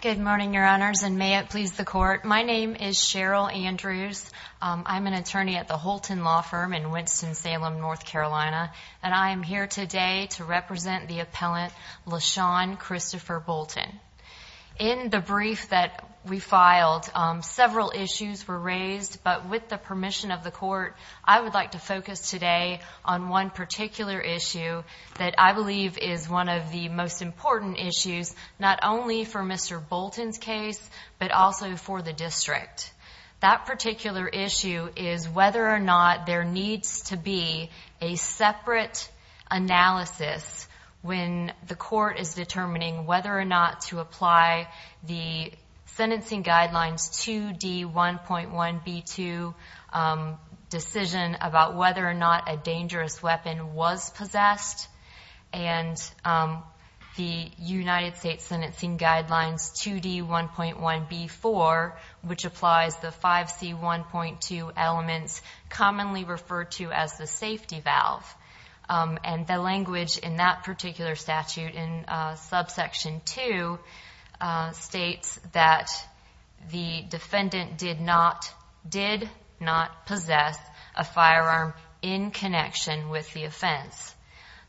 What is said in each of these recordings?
Good morning your honors and may it please the court. My name is Cheryl Andrews. I'm an attorney at the Holton Law Firm in Winston-Salem, North Carolina and I am here today to represent the appellant Lashaun Christopher Bolton. In the brief that we filed several issues were raised but with the permission of the court I would like to focus today on one particular issue that I believe is one of the most important issues not only for Mr. Bolton's case but also for the district. That particular issue is whether or not there needs to be a separate analysis when the court is determining whether or not to apply the sentencing guidelines 2d 1.1 b2 decision about whether or not a dangerous weapon was possessed and the United States sentencing guidelines 2d 1.1 b4 which applies the 5c 1.2 elements commonly referred to as the safety valve and the language in that particular statute in subsection 2 states that the defendant did not did not possess a firearm in connection with the offense.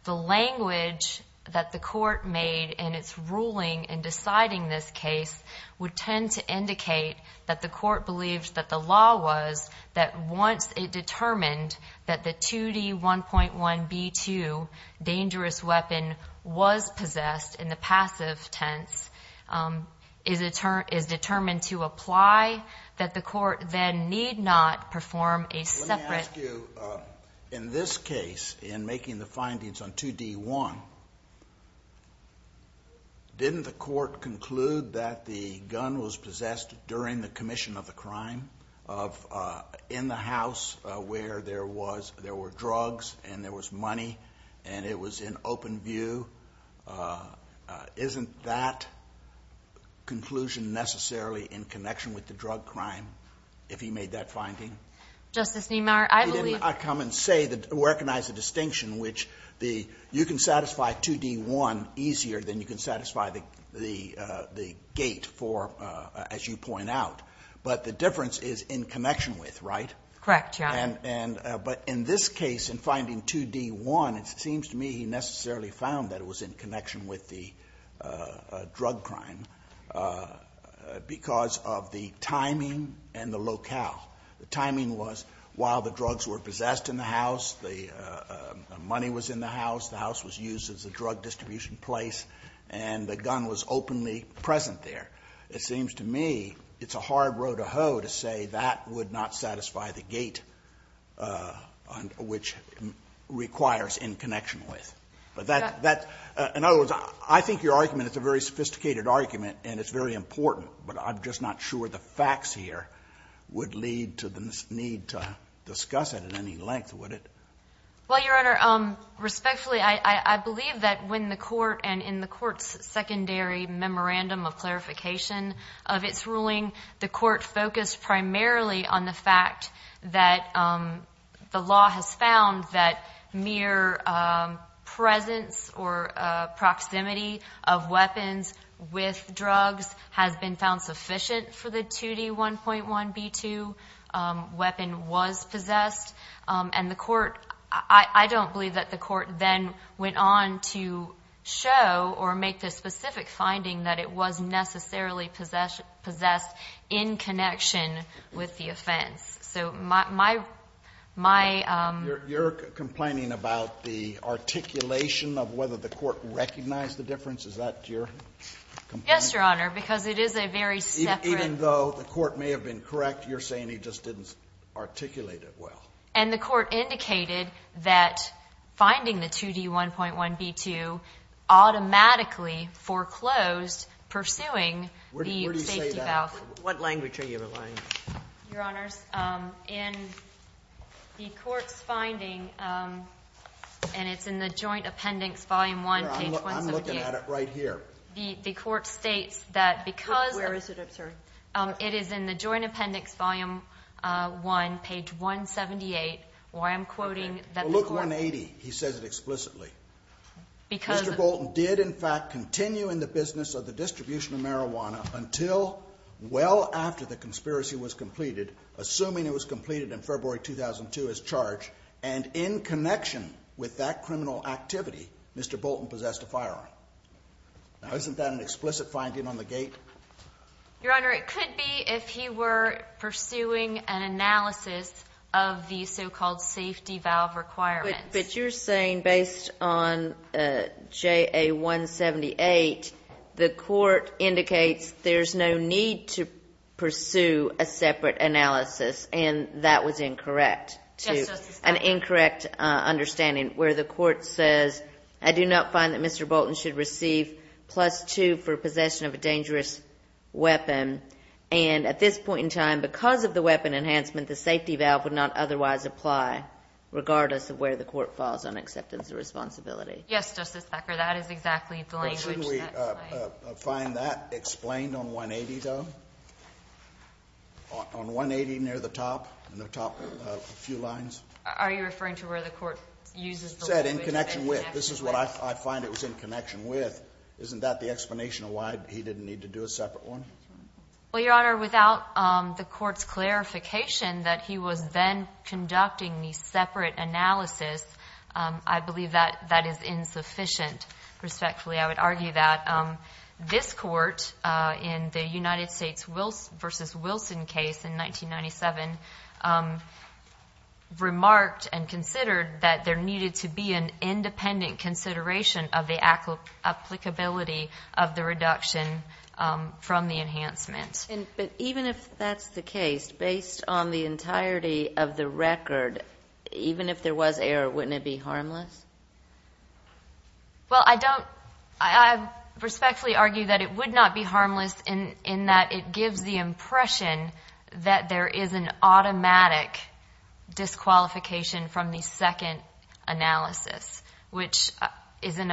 The language that the court made and it's ruling and deciding this case would tend to indicate that the court believes that the law was that once it determined that the 2d 1.1 b2 dangerous weapon was possessed in the passive tense is a term is determined to imply that the court then need not perform a separate. In this case in making the findings on 2d 1 didn't the court conclude that the gun was possessed during the commission of the crime of in the house where there was there were drugs and there was money and it was in open view isn't that conclusion necessarily in connection with the drug crime if he made that finding justice Niemeyer I believe I come and say that recognize the distinction which the you can satisfy 2d 1 easier than you can satisfy the the the gate for as you point out but the difference is in connection with right correct yeah and and but in this case in finding 2d 1 it seems to me he necessarily found that it was in drug crime because of the timing and the locale the timing was while the drugs were possessed in the house the money was in the house the house was used as a drug distribution place and the gun was openly present there it seems to me it's a hard road to hoe to say that would not satisfy the gate on which requires in connection with but that that in other words I think your argument it's a very sophisticated argument and it's very important but I'm just not sure the facts here would lead to the need to discuss it at any length would it well your honor um respectfully I I believe that when the court and in the court's secondary memorandum of clarification of its ruling the court focused primarily on the fact that the law has found that mere presence or proximity of weapons with drugs has been found sufficient for the 2d 1.1 b2 weapon was possessed and the court I don't believe that the court then went on to show or make this specific finding that it was necessarily possession possessed in connection with the offense so my my my um you're complaining about the articulation of whether the court recognized the difference is that your yes your honor because it is a very even though the court may have been correct you're saying he just didn't articulate it well and the court indicated that finding the 2d 1.1 b2 automatically foreclosed pursuing what language are you relying your honors in the court's finding and it's in the joint appendix volume 1 right here the the court states that because it is in the joint appendix volume 1 page 178 why I'm quoting that did in fact continue in the business of the distribution of marijuana until well after the conspiracy was completed assuming it was completed in February 2002 as charged and in connection with that criminal activity mr. Bolton possessed a firearm now isn't that an explicit finding on the gate your honor it could be if he were pursuing an analysis of the so-called safety valve requirements but you're saying based on jay a 178 the court indicates there's no need to pursue a separate analysis and that was incorrect to an incorrect understanding where the court says I do not find that mr. Bolton should receive plus two for possession of a dangerous weapon and at this point in time because of the weapon enhancement the safety valve would not otherwise apply regardless of where the court falls on acceptance of responsibility yes justice backer that is exactly the language we find that explained on 180 though on 180 near the top and the top few lines are you referring to where the court uses said in connection with this is what I find it was in connection with isn't that the explanation of why he didn't need to do a separate one well your honor without the court's clarification that he was then conducting the separate analysis I believe that that is insufficient respectfully I would argue that this court in the United States will versus Wilson case in 1997 remarked and considered that there needed to be an independent consideration of the apple applicability of the reduction from the enhancements and even if that's the case based on the entirety of the record even if there was error wouldn't it be harmless well I don't I respectfully argue that it would not be harmless in in that it gives the impression that there is an automatic disqualification from the second analysis which is an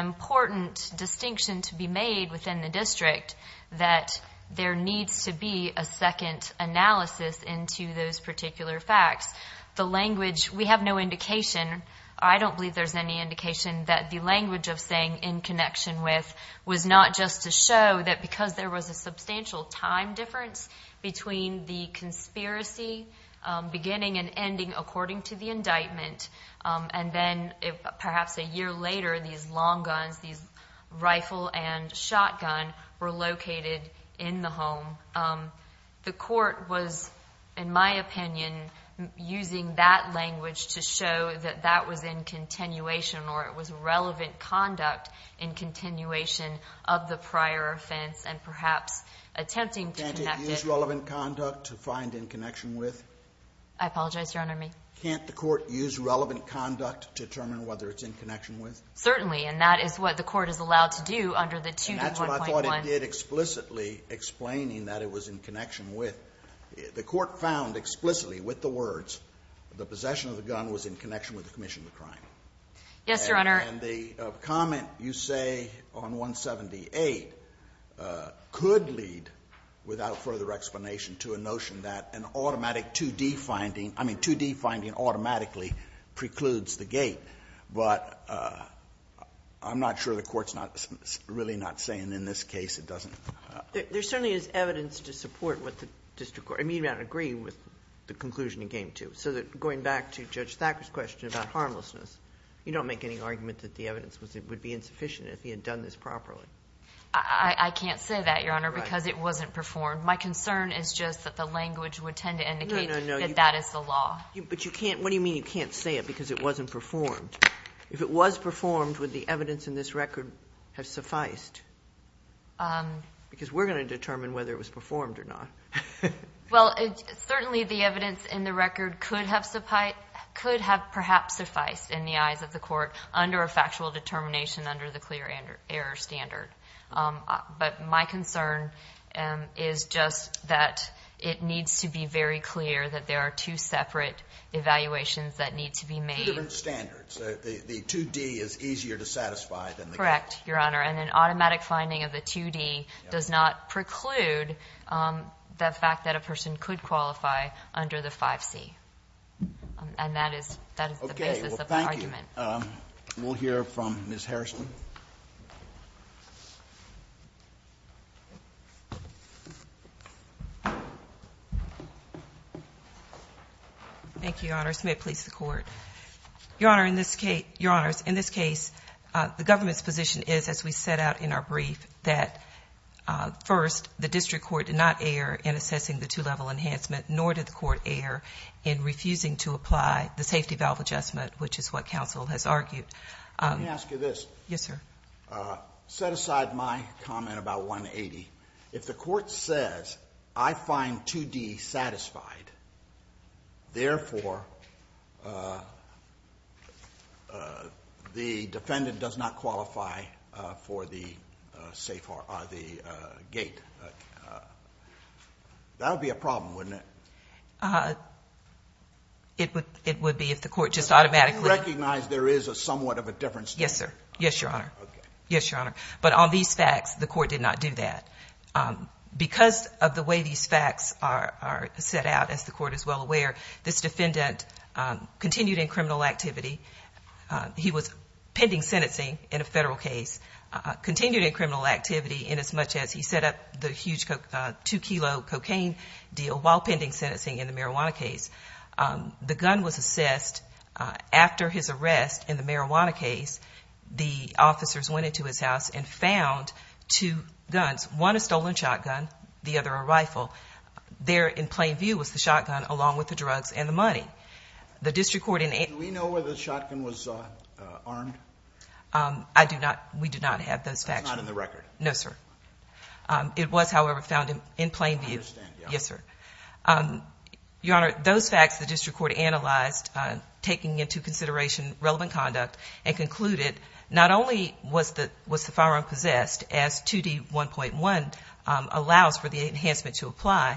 there needs to be a second analysis into those particular facts the language we have no indication I don't believe there's any indication that the language of saying in connection with was not just to show that because there was a substantial time difference between the conspiracy beginning and ending according to the indictment and then if perhaps a year later these long guns these rifle and shotgun were located in the home the court was in my opinion using that language to show that that was in continuation or it was relevant conduct in continuation of the prior offense and perhaps attempting to use relevant conduct to find in connection with I apologize your honor me can't the court use relevant conduct to determine whether it's in connection with certainly and that is what the court is allowed to do under the 2.1 did explicitly explaining that it was in connection with the court found explicitly with the words the possession of the gun was in connection with the commission the crime yes your honor and the comment you say on 178 could lead without further explanation to a notion that an automatic 2d finding I mean 2d automatically precludes the gate but I'm not sure the court's not really not saying in this case it doesn't there certainly is evidence to support what the district court I mean you don't agree with the conclusion in game two so that going back to judge Thacker's question about harmlessness you don't make any argument that the evidence was it would be insufficient if he had done this properly I can't say that your honor because it wasn't performed my concern is just that the language would tend to indicate that that is the law but you can't what do you mean you can't say it because it wasn't performed if it was performed with the evidence in this record have sufficed because we're going to determine whether it was performed or not well it's certainly the evidence in the record could have supplied could have perhaps suffice in the eyes of the court under a factual determination under the clear and error standard but my concern is just that it needs to be very clear that there are two separate evaluations that need to be made standards the 2d is easier to satisfy than correct your honor and an automatic finding of the 2d does not preclude the fact that a person could qualify under the 5c and that is that is the basis of argument we'll hear from mr. Smith please the court your honor in this case your honors in this case the government's position is as we set out in our brief that first the district court did not err in assessing the two-level enhancement nor did the court err in refusing to apply the safety valve adjustment which is what counsel has argued let me ask you this yes sir set aside my comment about 180 if the court says I find 2d satisfied therefore the defendant does not qualify for the safe are the gate that would be a problem wouldn't it it would it would be if the there is a somewhat of a difference yes sir yes your honor yes your honor but on these facts the court did not do that because of the way these facts are set out as the court is well aware this defendant continued in criminal activity he was pending sentencing in a federal case continued in criminal activity in as much as he set up the huge coke 2 kilo cocaine deal while pending sentencing in the marijuana case the gun was assessed after his arrest in the marijuana case the officers went into his house and found two guns one is stolen shotgun the other a rifle there in plain view was the shotgun along with the drugs and the money the district court in a we know where the shotgun was armed I do not we do not have those facts not in the record no sir it was however found him in plain view yes sir your honor those facts the district court analyzed taking into consideration relevant conduct and concluded not only was that was the firearm possessed as 2d 1.1 allows for the enhancement to apply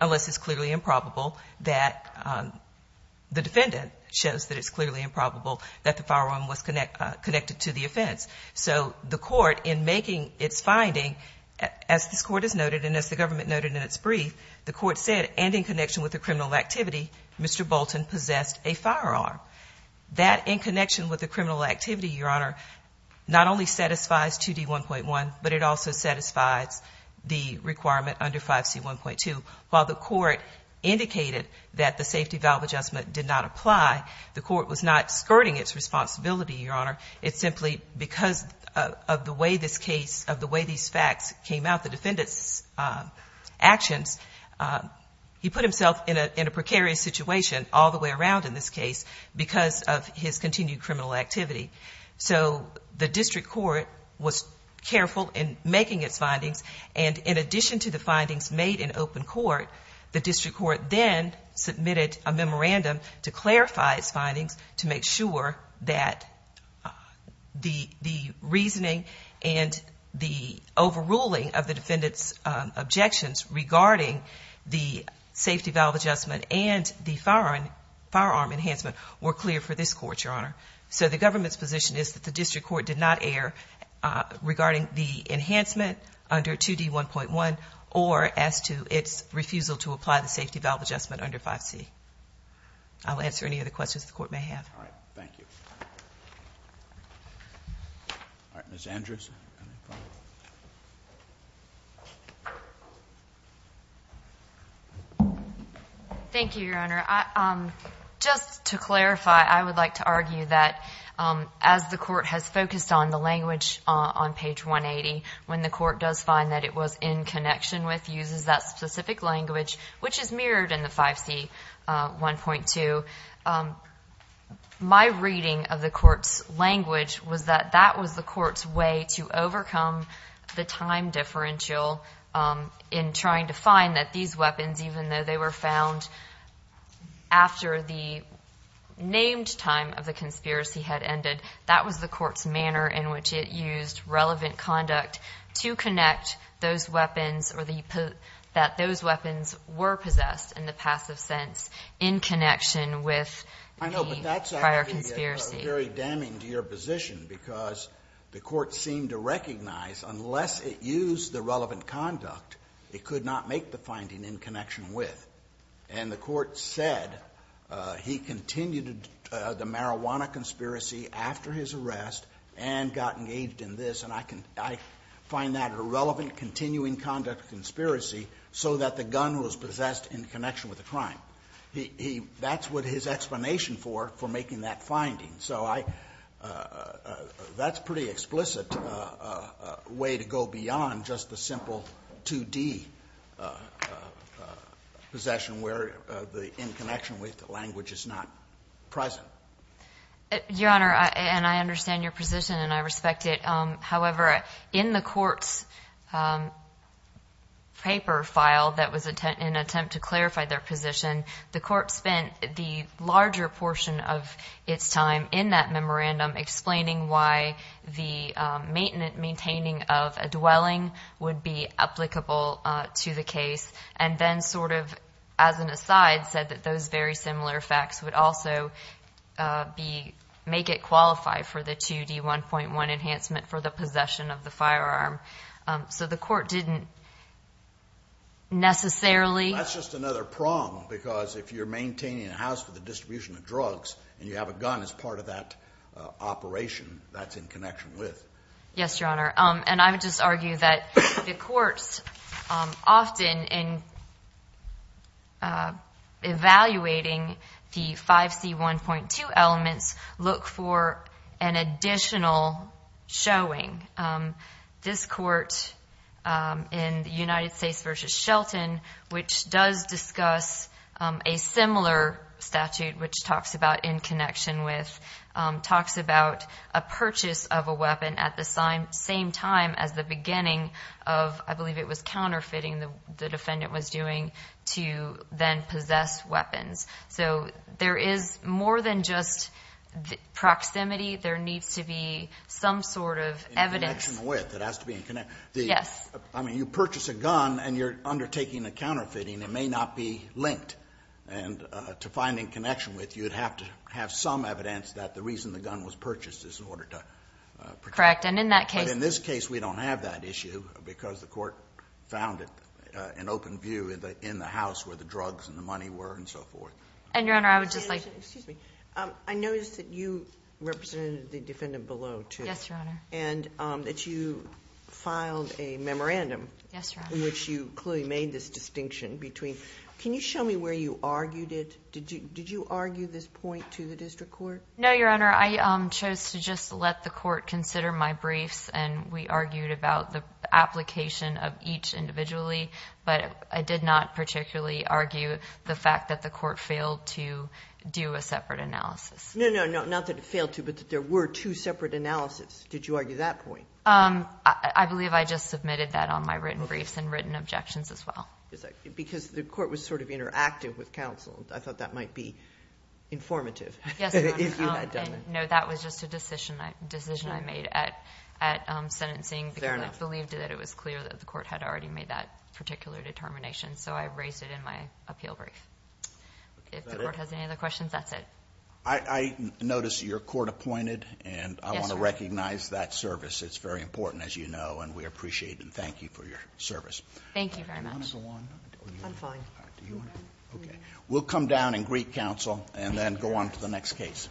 unless it's clearly improbable that the defendant shows that it's clearly improbable that the firearm was connect connected to the offense so the court in making its finding as this court is noted and as the government noted in its brief the court said and in connection with the criminal activity mr. Bolton possessed a firearm that in connection with the criminal activity your honor not only satisfies 2d 1.1 but it also satisfies the requirement under 5c 1.2 while the court indicated that the safety valve adjustment did not apply the court was not skirting its responsibility your honor it's simply because of the way this case of the way these facts came out the defendants actions he put himself in a precarious situation all the way around in this case because of his continued criminal activity so the district court was careful in making its findings and in addition to the findings made in open court the district court then submitted a memorandum to clarify its findings to make sure that the reasoning and the overruling of the defendants objections regarding the safety valve adjustment and the foreign firearm enhancement were clear for this court your honor so the government's position is that the district court did not air regarding the enhancement under 2d 1.1 or as to its refusal to apply the safety valve adjustment under 5c I'll answer any other questions the court may have all right thank you thank you your honor I'm just to clarify I would like to argue that as the court has focused on the language on page 180 when the court does find that it was in connection with uses that specific language which is mirrored in the 5c 1.2 my reading of the court's language was that that was the court's way to overcome the time differential in trying to find that these weapons even though they were found after the named time of the conspiracy had ended that was the court's manner in which it used relevant conduct to connect those weapons or the that those weapons were possessed in the passive sense in connection with conspiracy very damning to your position because the court seemed to recognize unless it used the relevant conduct it could not make the finding in connection with and the court said he continued the marijuana conspiracy after his arrest and got engaged in this and I can I find that a relevant continuing conduct conspiracy so that the gun was possessed in connection with the crime he that's what his explanation for for making that finding so I that's pretty explicit way to go beyond just the simple 2d possession where the in connection with language is not present your honor and I understand your position and I respect it however in the court's paper file that was a tent in attempt to clarify their position the court spent the larger portion of its time in that memorandum explaining why the maintenance maintaining of a dwelling would be applicable to the case and then sort of as an aside said that those very for the possession of the firearm so the court didn't necessarily just another prong because if you're maintaining a house for the distribution of drugs and you have a gun as part of that operation that's in connection with yes your honor and I would just argue that the courts often in evaluating the 5c 1.2 elements look for an additional showing this court in the United States versus Shelton which does discuss a similar statute which talks about in connection with talks about a purchase of a weapon at the same time as the beginning of I believe it was counterfeiting the defendant was doing to then possess weapons so there is more than just the proximity there needs to be some sort of evidence with it has to be connected yes I mean you purchase a gun and you're undertaking a counterfeiting it may not be linked and to find in connection with you'd have to have some evidence that the reason the gun was purchased is in order to correct and in that case in this case we don't have that issue because the court found it an open view in the in the house where the drugs and money were and so forth and your honor I would just like I noticed that you represented the defendant below to yes your honor and that you filed a memorandum yes which you clearly made this distinction between can you show me where you argued it did you did you argue this point to the district court no your honor I chose to just let the court consider my briefs and we argued about the application of each individually but I did not particularly argue the fact that the court failed to do a separate analysis no no no not that it failed to but that there were two separate analysis did you argue that point um I believe I just submitted that on my written briefs and written objections as well because the court was sort of interactive with counsel I thought that might be informative no that was just a decision I decision I made at at sentencing there and I believed that it was clear that the court had already made that particular determination so I raised it in my appeal brief if the court has any other questions that's it I noticed your court appointed and I want to recognize that service it's very important as you know and we appreciate and thank you for your service thank you very much okay we'll come down and greet counsel and then go on to the next case